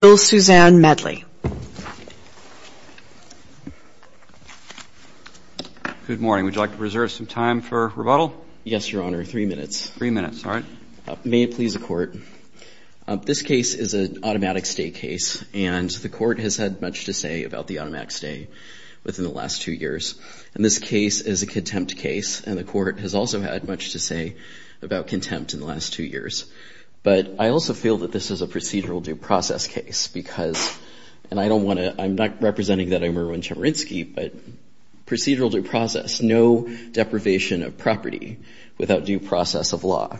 Bill Suzanne Medley Good morning, would you like to reserve some time for rebuttal? Yes, Your Honor. Three minutes. Three minutes. All right. May it please the Court. This case is an automatic stay case, and the Court has had much to say about the automatic stay within the last two years, and this case is a contempt case, and the Court has also had much to say about contempt in the last two years, but I also feel that this is a and I don't want to, I'm not representing that I'm Erwin Chemerinsky, but procedural due process, no deprivation of property without due process of law,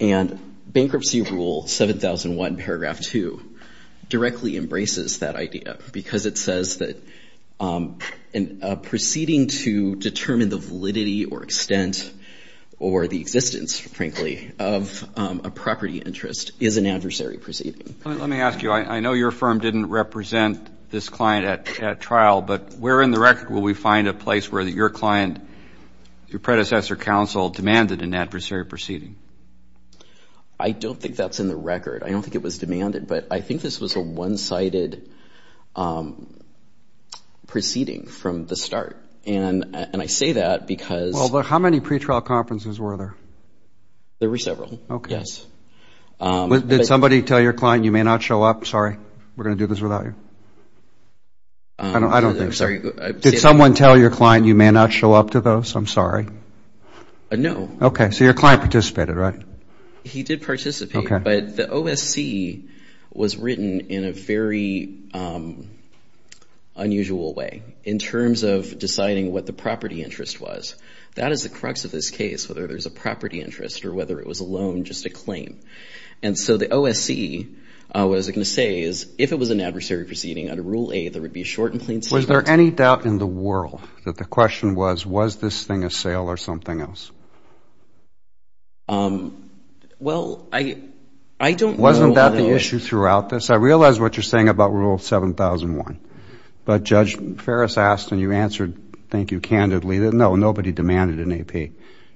and Bankruptcy Rule 7001 paragraph 2 directly embraces that idea, because it says that a proceeding to determine the validity or extent or the existence, frankly, of a property interest is an adversary proceeding. Let me ask you, I know your firm didn't represent this client at trial, but where in the record will we find a place where your client, your predecessor counsel, demanded an adversary proceeding? I don't think that's in the record. I don't think it was demanded, but I think this was a one-sided proceeding from the start, and I say that because Well, but how many pretrial conferences were there? There were several. Okay. Yes. Did somebody tell your client you may not show up? Sorry, we're going to do this without you. I don't think so. I'm sorry. Did someone tell your client you may not show up to those? I'm sorry. No. Okay. So your client participated, right? He did participate, but the OSC was written in a very unusual way in terms of deciding what the property interest was. That is the crux of this case, whether there's a property interest or whether it was a loan, or even just a claim. And so the OSC, what I was going to say is, if it was an adversary proceeding, under Rule A, there would be a short and plain sentence. Was there any doubt in the world that the question was, was this thing a sale or something Well, I don't know whether it was. Wasn't that the issue throughout this? I realize what you're saying about Rule 7001, but Judge Ferris asked, and you answered, thank you, candidly, that no, nobody demanded an AP.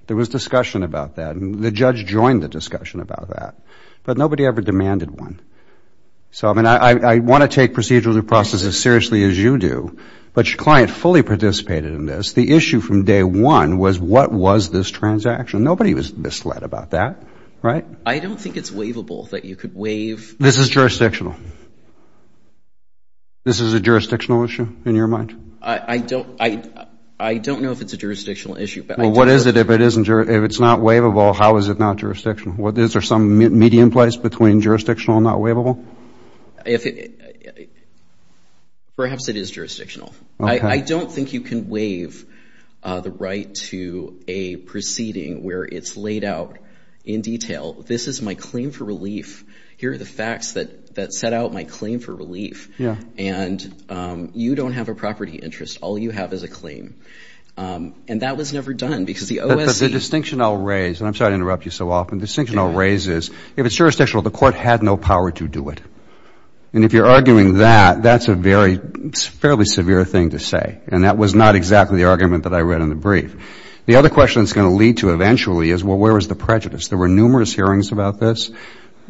There was discussion about that. The judge joined the discussion about that. But nobody ever demanded one. So I mean, I want to take procedural due process as seriously as you do, but your client fully participated in this. The issue from day one was, what was this transaction? Nobody was misled about that, right? I don't think it's waivable that you could waive This is jurisdictional. This is a jurisdictional issue in your mind? I don't know if it's a jurisdictional issue. Well, what is it if it's not waivable? How is it not jurisdictional? Is there some medium place between jurisdictional and not waivable? Perhaps it is jurisdictional. I don't think you can waive the right to a proceeding where it's laid out in detail. This is my claim for relief. Here are the facts that set out my claim for relief. All you have is a claim. And that was never done because the OSC... But the distinction I'll raise, and I'm sorry to interrupt you so often, the distinction I'll raise is, if it's jurisdictional, the court had no power to do it. And if you're arguing that, that's a very, fairly severe thing to say. And that was not exactly the argument that I read in the brief. The other question it's going to lead to eventually is, well, where is the prejudice? There were numerous hearings about this.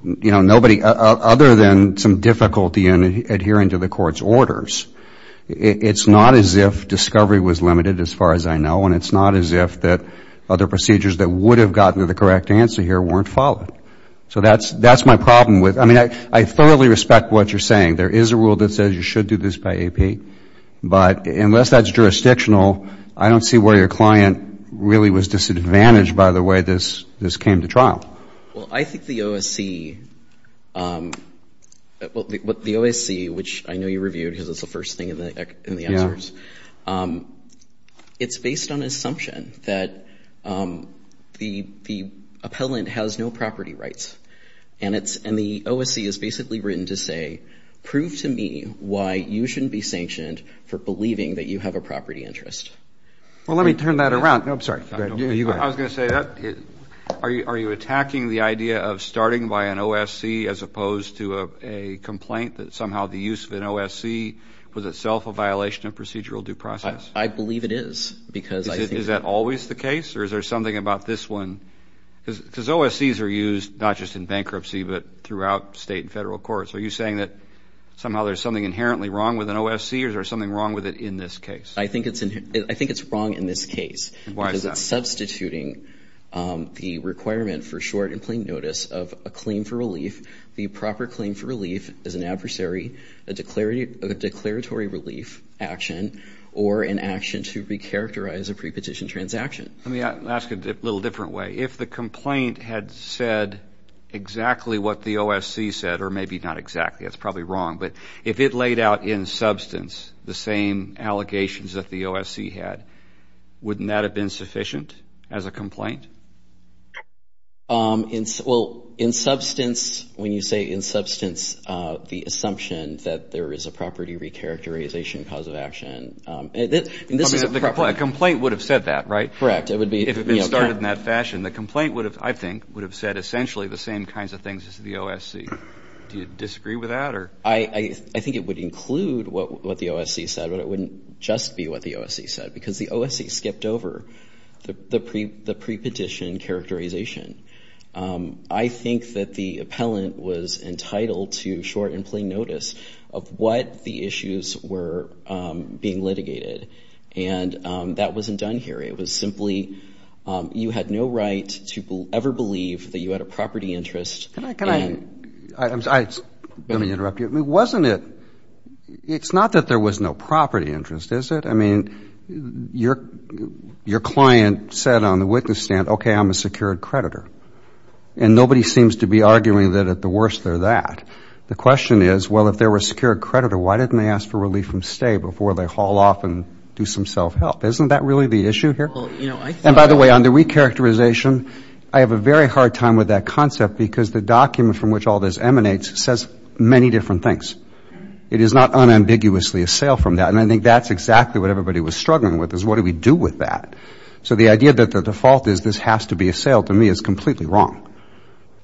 You know, nobody, other than some difficulty in adhering to the court's orders, it's not as if discovery was limited, as far as I know. And it's not as if that other procedures that would have gotten to the correct answer here weren't followed. So that's my problem with... I mean, I thoroughly respect what you're saying. There is a rule that says you should do this by AP. But unless that's jurisdictional, I don't see where your client really was disadvantaged by the way this came to trial. Well, I think the OSC, which I know you reviewed, because it's the first thing in the answers, it's based on an assumption that the appellant has no property rights. And the OSC is basically written to say, prove to me why you shouldn't be sanctioned for believing that you have a property interest. Well, let me turn that around. No, I'm sorry. You go ahead. I was going to say that. Are you attacking the idea of starting by an OSC as opposed to a complaint that somehow the use of an OSC was itself a violation of procedural due process? I believe it is, because I think... Is that always the case? Or is there something about this one? Because OSCs are used not just in bankruptcy, but throughout state and federal courts. Are you saying that somehow there's something inherently wrong with an OSC? Or is there something wrong with it in this case? I think it's wrong in this case. Why is that? Because it's substituting the requirement for short and plain notice of a claim for relief. The proper claim for relief is an adversary, a declaratory relief action, or an action to recharacterize a prepetition transaction. Let me ask it a little different way. If the complaint had said exactly what the OSC said, or maybe not exactly, that's probably wrong, but if it laid out in substance the same allegations that the OSC had, wouldn't that have been sufficient as a complaint? Well, in substance, when you say in substance, the assumption that there is a property recharacterization cause of action, and this is a property... A complaint would have said that, right? Correct, it would be... If it had been started in that fashion, the complaint would have, I think, would have said essentially the same kinds of things as the OSC. Do you disagree with that? I think it would include what the OSC said, but it wouldn't just be what the OSC said, because the OSC skipped over the prepetition characterization. I think that the appellant was entitled to short and plain notice of what the issues were being litigated, and that wasn't done here. It was simply, you had no right to ever believe that you had a property interest... Let me interrupt you. Wasn't it... It's not that there was no property interest, is it? I mean, your client said on the witness stand, okay, I'm a secured creditor, and nobody seems to be arguing that at the worst they're that. The question is, well, if they were a secured creditor, why didn't they ask for relief from stay before they haul off and do some self-help? Isn't that really the issue here? And by the way, on the recharacterization, I have a very hard time with that concept, because the document from which all this emanates says many different things. It is not unambiguously a sale from that, and I think that's exactly what everybody was struggling with, is what do we do with that? So the idea that the default is this has to be a sale to me is completely wrong.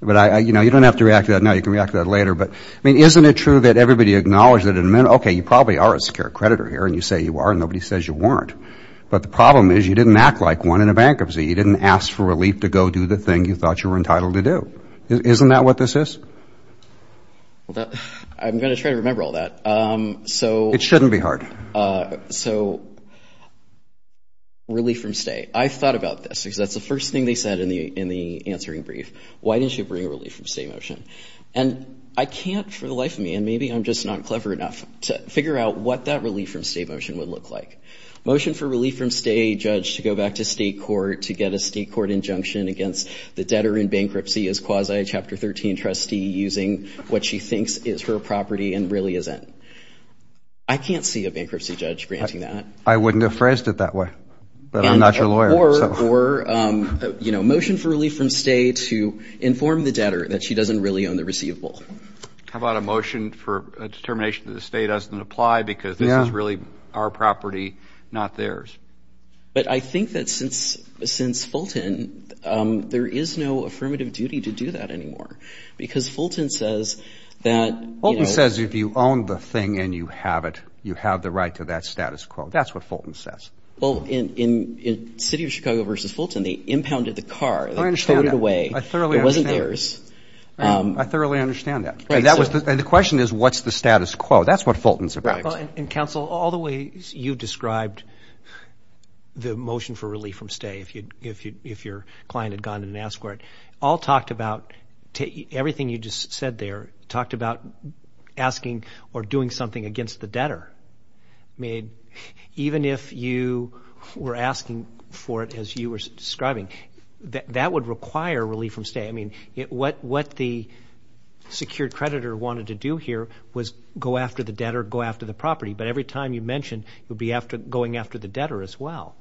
But, you know, you don't have to react to that now. You can react to that later. But, I mean, isn't it true that everybody acknowledged that, okay, you probably are a secured creditor here, and you say you are, and nobody says you weren't. But the problem is you didn't act like one in a bankruptcy. You didn't ask for relief to go do the thing you thought you were entitled to do. Isn't that what this is? I'm going to try to remember all that. It shouldn't be hard. So relief from stay. I thought about this, because that's the first thing they said in the answering brief. Why didn't you bring relief from stay motion? And I can't for the life of me, and maybe I'm just not clever enough to figure out what that relief from stay motion would look like. Motion for relief from stay, judge, to go back to state court to get a state court injunction against the debtor in bankruptcy as quasi chapter 13 trustee using what she thinks is her property and really isn't. I can't see a bankruptcy judge granting that. I wouldn't have phrased it that way, but I'm not your lawyer. Or, you know, motion for relief from stay to inform the debtor that she doesn't really own the receivable. How about a motion for a determination that a stay doesn't apply because this is really our property, not theirs? But I think that since Fulton, there is no affirmative duty to do that anymore, because Fulton says that, you know. Fulton says if you own the thing and you have it, you have the right to that status quo. That's what Fulton says. Well, in City of Chicago v. Fulton, they impounded the car, they towed it away. I thoroughly understand. It wasn't theirs. I thoroughly understand that. And the question is, what's the status quo? That's what Fulton's about. And, counsel, all the ways you described the motion for relief from stay, if your client had gone in and asked for it, all talked about everything you just said there talked about asking or doing something against the debtor. I mean, even if you were asking for it as you were describing, that would require relief from stay. I mean, what the secured creditor wanted to do here was go after the debtor, go after the property. But every time you mentioned, you'd be going after the debtor as well.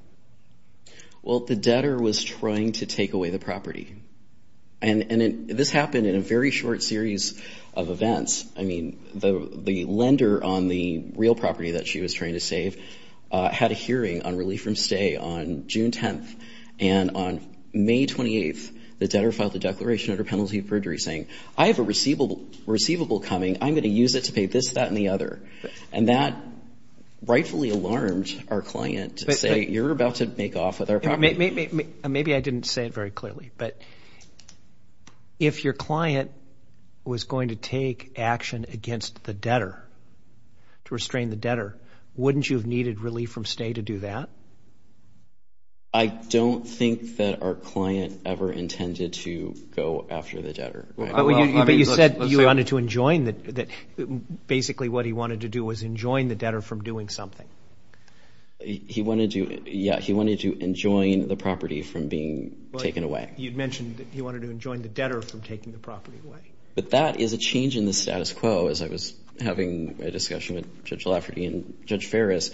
Well, the debtor was trying to take away the property. And this happened in a very short series of events. I mean, the lender on the real property that she was trying to save had a hearing on relief from stay on June 10th. And on May 28th, the debtor filed a declaration under penalty of perjury saying, I have a receivable coming. I'm going to use it to pay this, that, and the other. And that rightfully alarmed our client to say, you're about to make off with our property. Maybe I didn't say it very clearly. But if your client was going to take action against the debtor, to restrain the debtor, wouldn't you have needed relief from stay to do that? I don't think that our client ever intended to go after the debtor. But you said you wanted to enjoin that basically what he wanted to do was enjoin the debtor from doing something. He wanted to, yeah, he wanted to enjoin the property from being taken away. You'd mentioned that he wanted to enjoin the debtor from taking the property away. But that is a change in the status quo, as I was having a discussion with Judge Lafferty and Judge Ferris.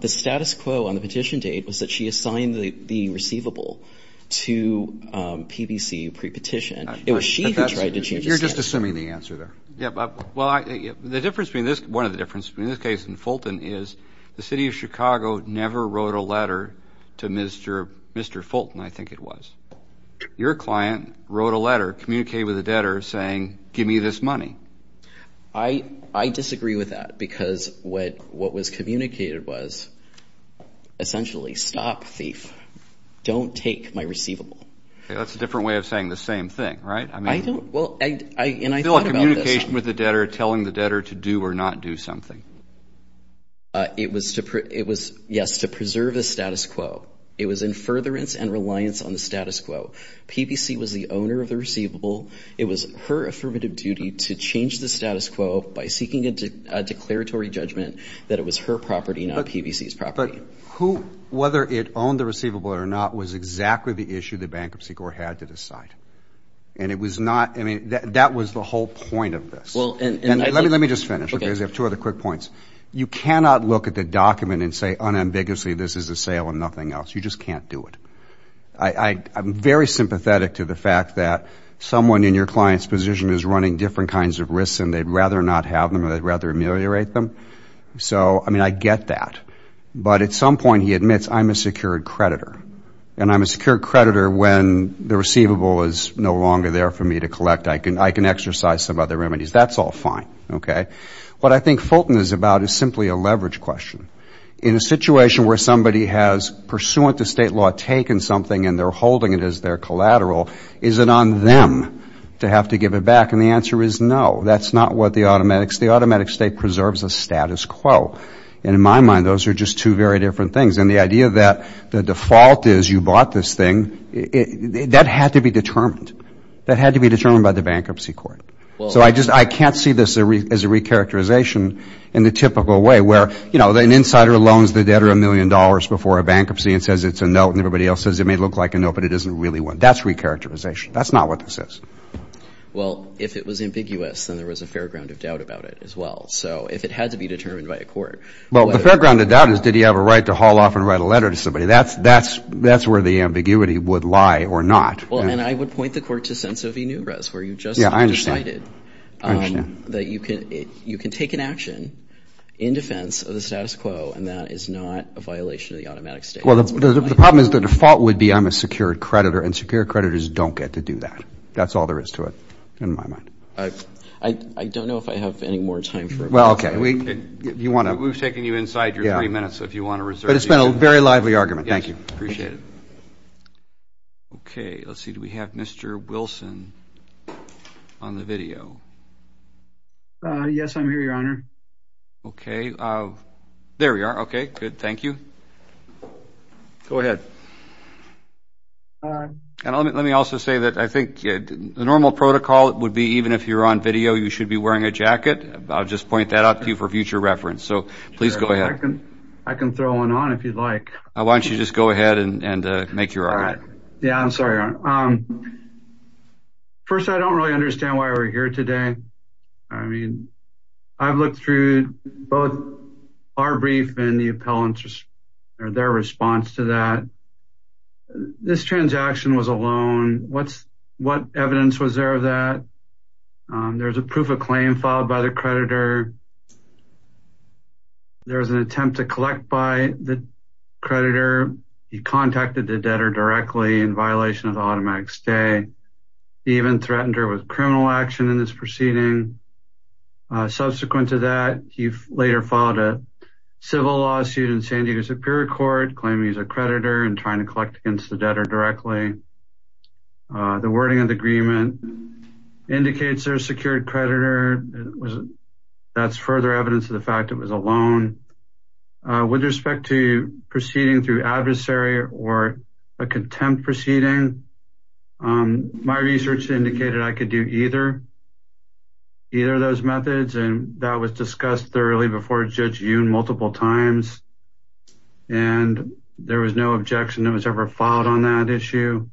The status quo on the petition date was that she assigned the receivable to PBC pre-petition. It was she who tried to change the status quo. You're just assuming the answer there. Well, the difference between this, one of the differences between this case and Fulton is the City of Chicago never wrote a letter to Mr. Fulton, I think it was. Your client wrote a letter, communicated with the debtor saying, give me this money. I disagree with that because what was communicated was essentially, stop, thief. Don't take my receivable. That's a different way of saying the same thing, right? I don't, well, and I thought about this. Still a communication with the debtor telling the debtor to do or not do something. It was, yes, to preserve the status quo. It was in furtherance and reliance on the status quo. PBC was the owner of the receivable. It was her affirmative duty to change the status quo by seeking a declaratory judgment that it was her property, not PBC's property. But who, whether it owned the receivable or not, was exactly the issue the Bankruptcy Court had to decide. And it was not, I mean, that was the whole point of this. And let me just finish because I have two other quick points. You cannot look at the document and say unambiguously this is a sale and nothing else. You just can't do it. I'm very sympathetic to the fact that someone in your client's position is running different kinds of risks and they'd rather not have them or they'd rather ameliorate them. So, I mean, I get that. But at some point he admits, I'm a secured creditor. And I'm a secured creditor when the receivable is no longer there for me to collect. I can exercise some other remedies. That's all fine, okay? What I think Fulton is about is simply a leverage question. In a situation where somebody has pursuant to state law taken something and they're holding it as their collateral, is it on them to have to give it back? And the answer is no. That's not what the automatic, the automatic state preserves a status quo. And in my mind those are just two very different things. And the idea that the default is you bought this thing, that had to be determined. That had to be determined by the Bankruptcy Court. So I just, I can't see this as a recharacterization in the typical way where, you know, an insider loans the debtor a million dollars before a bankruptcy and says it's a note. And everybody else says it may look like a note, but it isn't really one. That's recharacterization. That's not what this is. Well, if it was ambiguous, then there was a fair ground of doubt about it as well. So if it had to be determined by a court. Well, the fair ground of doubt is did he have a right to haul off and write a letter to somebody. That's where the ambiguity would lie or not. Well, and I would point the court to Senso V. Nures where you just decided. Yeah, I understand. That you can take an action in defense of the status quo, and that is not a violation of the automatic status quo. Well, the problem is the default would be I'm a secured creditor, and secured creditors don't get to do that. That's all there is to it in my mind. I don't know if I have any more time for it. Well, okay. We've taken you inside your three minutes, so if you want to reserve. But it's been a very lively argument. Thank you. Yes, I appreciate it. Okay, let's see. Do we have Mr. Wilson on the video? Yes, I'm here, Your Honor. Okay. There we are. Okay, good. Thank you. Go ahead. And let me also say that I think the normal protocol would be even if you're on video, you should be wearing a jacket. I'll just point that out to you for future reference. So please go ahead. I can throw one on if you'd like. Why don't you just go ahead and make your argument. Yeah, I'm sorry, Your Honor. First, I don't really understand why we're here today. I mean, I've looked through both our brief and the appellant's or their response to that. This transaction was a loan. What evidence was there of that? There's a proof of claim filed by the creditor. There was an attempt to collect by the creditor. He contacted the debtor directly in violation of the automatic stay. He even threatened her with criminal action in this proceeding. Subsequent to that, he later filed a civil lawsuit in San Diego Superior Court, claiming he's a creditor and trying to collect against the debtor directly. The wording of the agreement indicates they're a secured creditor. That's further evidence of the fact it was a loan. With respect to proceeding through adversary or a contempt proceeding, my research indicated I could do either of those methods, and that was discussed thoroughly before Judge Yoon multiple times, and there was no objection that was ever filed on that issue.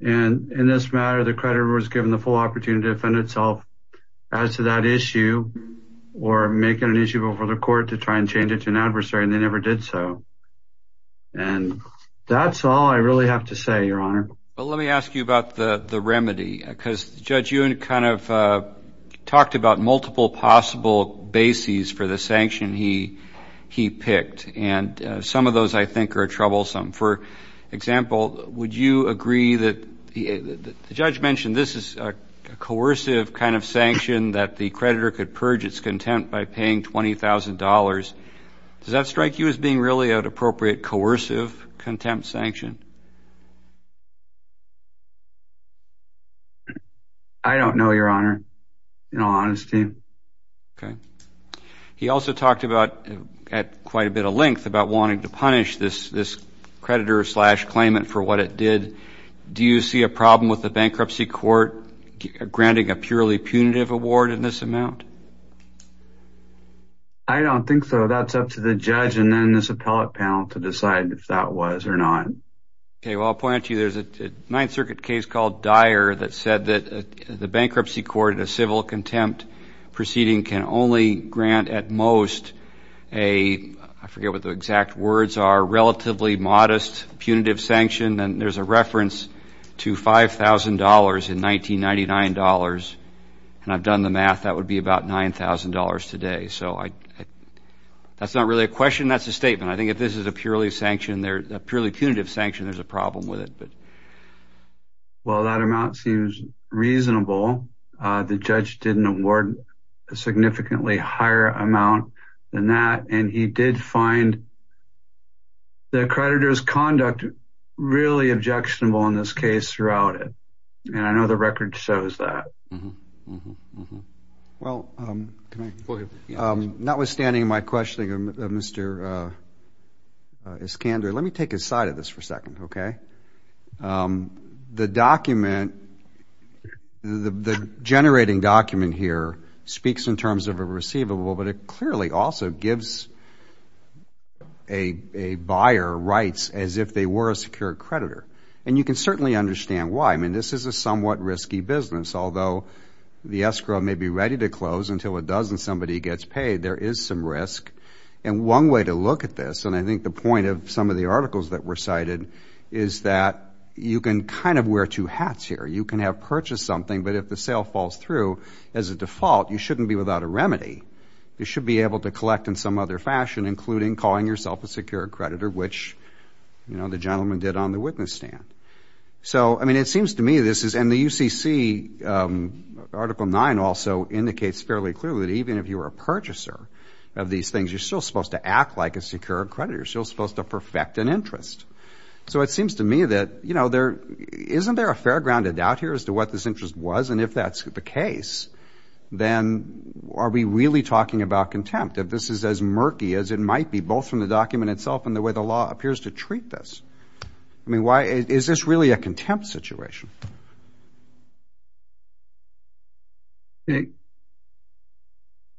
In this matter, the creditor was given the full opportunity to defend itself as to that issue or make it an issue before the court to try and change it to an adversary, and they never did so. That's all I really have to say, Your Honor. Let me ask you about the remedy, because Judge Yoon kind of talked about multiple possible bases for the sanction he picked, and some of those I think are troublesome. For example, would you agree that the judge mentioned this is a coercive kind of sanction that the creditor could purge its contempt by paying $20,000. Does that strike you as being really an appropriate coercive contempt sanction? I don't know, Your Honor, in all honesty. Okay. He also talked about, at quite a bit of length, about wanting to punish this creditor-slash-claimant for what it did. Do you see a problem with the bankruptcy court granting a purely punitive award in this amount? I don't think so. That's up to the judge and then this appellate panel to decide if that was or not. Okay, well, I'll point out to you there's a Ninth Circuit case called Dyer that said that the bankruptcy court in a civil contempt proceeding can only grant at most a, I forget what the exact words are, relatively modest punitive sanction, and there's a reference to $5,000 in 1999 dollars, and I've done the math, that would be about $9,000 today. That's not really a question, that's a statement. I think if this is a purely punitive sanction, there's a problem with it. Well, that amount seems reasonable. The judge didn't award a significantly higher amount than that, and he did find the creditor's conduct really objectionable in this case throughout it, and I know the record shows that. Well, notwithstanding my questioning of Mr. Iskander, let me take a side of this for a second, okay? The document, the generating document here speaks in terms of a receivable, but it clearly also gives a buyer rights as if they were a secure creditor, and you can certainly understand why. I mean, this is a somewhat risky business, although the escrow may be ready to close until a dozen somebody gets paid, there is some risk. And one way to look at this, and I think the point of some of the articles that were cited, is that you can kind of wear two hats here. You can have purchased something, but if the sale falls through, as a default, you shouldn't be without a remedy. You should be able to collect in some other fashion, including calling yourself a secure creditor, which, you know, the gentleman did on the witness stand. So, I mean, it seems to me this is, and the UCC Article 9 also indicates fairly clearly that even if you are a purchaser of these things, you're still supposed to act like a secure creditor. You're still supposed to perfect an interest. So it seems to me that, you know, isn't there a fair ground of doubt here as to what this interest was? And if that's the case, then are we really talking about contempt? If this is as murky as it might be, both from the document itself and the way the law appears to treat this, I mean, is this really a contempt situation?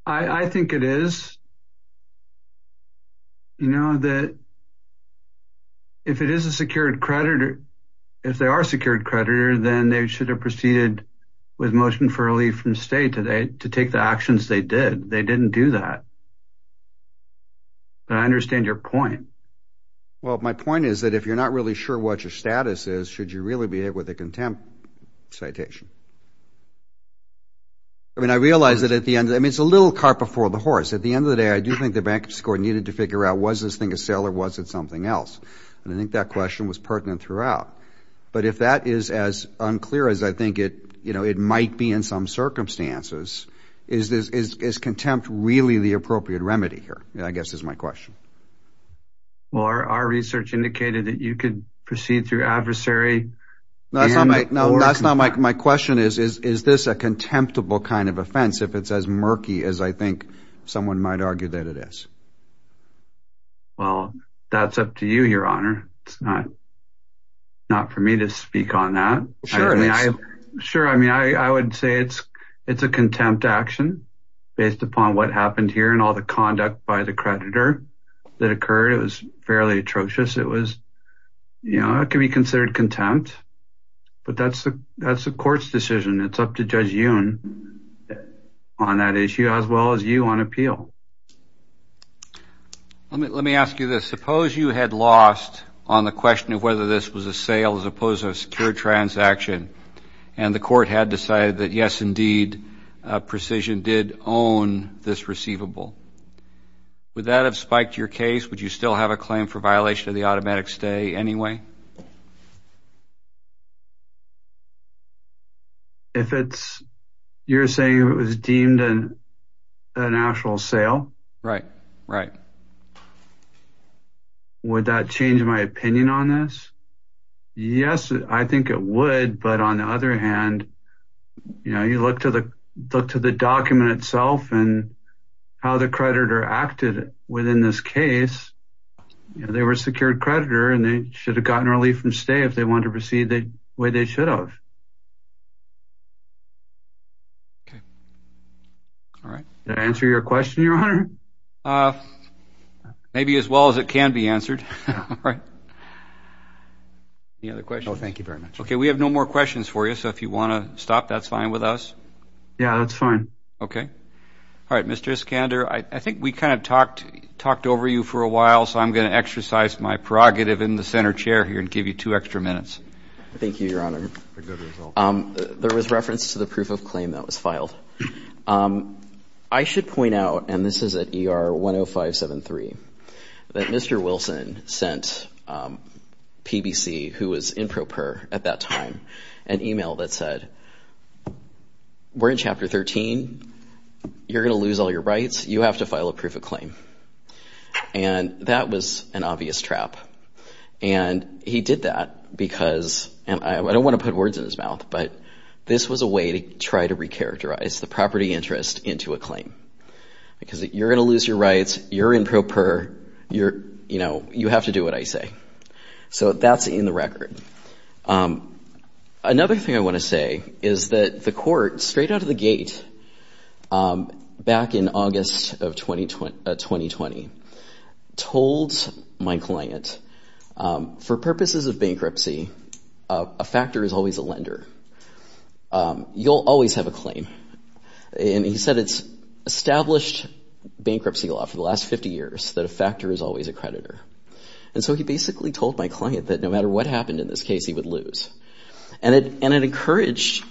I think it is, you know, that if it is a secured creditor, if they are a secured creditor, then they should have proceeded with motion for relief from state to take the actions they did. They didn't do that. But I understand your point. Well, my point is that if you're not really sure what your status is, should you really behave with a contempt citation? I mean, I realize that at the end, I mean, it's a little cart before the horse. At the end of the day, I do think the bankruptcy court needed to figure out, was this thing a sale or was it something else? And I think that question was pertinent throughout. But if that is as unclear as I think it, you know, it might be in some circumstances, is contempt really the appropriate remedy here, I guess is my question. Well, our research indicated that you could proceed through adversary. No, that's not my question. Is this a contemptible kind of offense if it's as murky as I think someone might argue that it is? Well, that's up to you, Your Honor. It's not for me to speak on that. Sure. I mean, I would say it's a contempt action based upon what happened here and all the conduct by the creditor that occurred. It was fairly atrocious. It was, you know, it could be considered contempt. But that's the court's decision. It's up to Judge Yoon on that issue as well as you on appeal. Let me ask you this. Suppose you had lost on the question of whether this was a sale as opposed to a secure transaction, and the court had decided that, yes, indeed, Precision did own this receivable. Would that have spiked your case? Would you still have a claim for violation of the automatic stay anyway? If it's you're saying it was deemed a national sale? Right, right. Would that change my opinion on this? Yes, I think it would. But, on the other hand, you know, you look to the document itself and how the creditor acted within this case. You know, they were a secured creditor, and they should have gotten relief from stay if they wanted to proceed the way they should have. Okay. All right. Did that answer your question, Your Honor? Maybe as well as it can be answered. All right. Any other questions? No, thank you very much. Okay, we have no more questions for you, so if you want to stop, that's fine with us. Yeah, that's fine. Okay. All right, Mr. Iskander, I think we kind of talked over you for a while, so I'm going to exercise my prerogative in the center chair here and give you two extra minutes. Thank you, Your Honor. There was reference to the proof of claim that was filed. I should point out, and this is at ER 10573, that Mr. Wilson sent PBC, who was in PROPER at that time, an email that said, we're in Chapter 13, you're going to lose all your rights, you have to file a proof of claim. And that was an obvious trap. And he did that because, and I don't want to put words in his mouth, but this was a way to try to recharacterize the property interest into a claim. Because you're going to lose your rights, you're in PROPER, you have to do what I say. So that's in the record. Another thing I want to say is that the court, straight out of the gate, back in August of 2020, told my client, for purposes of bankruptcy, a factor is always a lender. You'll always have a claim. And he said it's established bankruptcy law for the last 50 years, that a factor is always a creditor. And so he basically told my client that no matter what happened in this case, he would lose. And it encouraged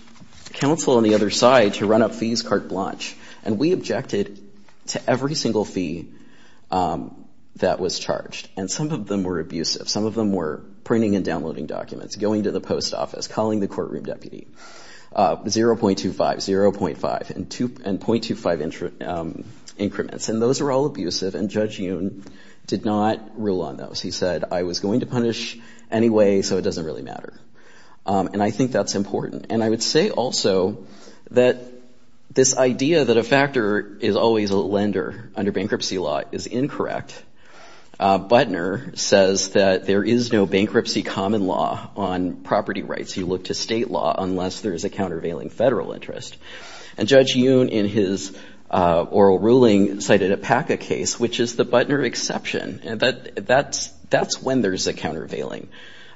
counsel on the other side to run up fees carte blanche. And we objected to every single fee that was charged. And some of them were abusive. Some of them were printing and downloading documents, going to the post office, calling the courtroom deputy. 0.25, 0.5, and 0.25 increments. And those were all abusive, and Judge Yoon did not rule on those. He said, I was going to punish anyway, so it doesn't really matter. And I think that's important. And I would say also that this idea that a factor is always a lender under bankruptcy law is incorrect. Butner says that there is no bankruptcy common law on property rights. You look to state law unless there is a countervailing federal interest. And Judge Yoon, in his oral ruling, cited a PACA case, which is the Butner exception. And that's when there's a countervailing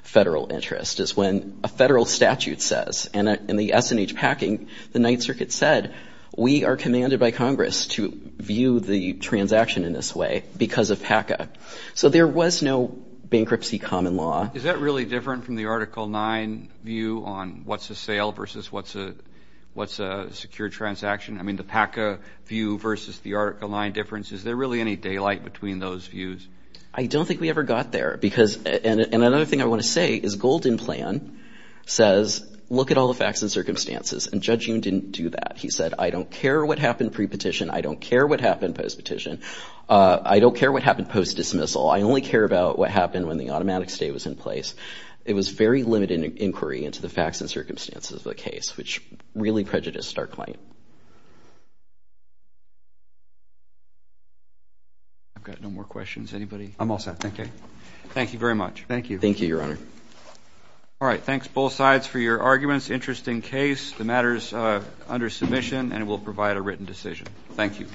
federal interest, is when a federal statute says, and in the S&H packing, the Ninth Circuit said, we are commanded by Congress to view the transaction in this way because of PACA. So there was no bankruptcy common law. Is that really different from the Article 9 view on what's a sale versus what's a secure transaction? I mean, the PACA view versus the Article 9 difference, is there really any daylight between those views? I don't think we ever got there. And another thing I want to say is Golden Plan says, look at all the facts and circumstances. And Judge Yoon didn't do that. He said, I don't care what happened pre-petition. I don't care what happened post-petition. I don't care what happened post-dismissal. I only care about what happened when the automatic stay was in place. It was very limited inquiry into the facts and circumstances of the case, which really prejudiced our claim. I've got no more questions. Anybody? I'm all set. Okay. Thank you very much. Thank you. Thank you, Your Honor. All right. Thanks, both sides, for your arguments. Interesting case. The matter is under submission, and it will provide a written decision. Thank you.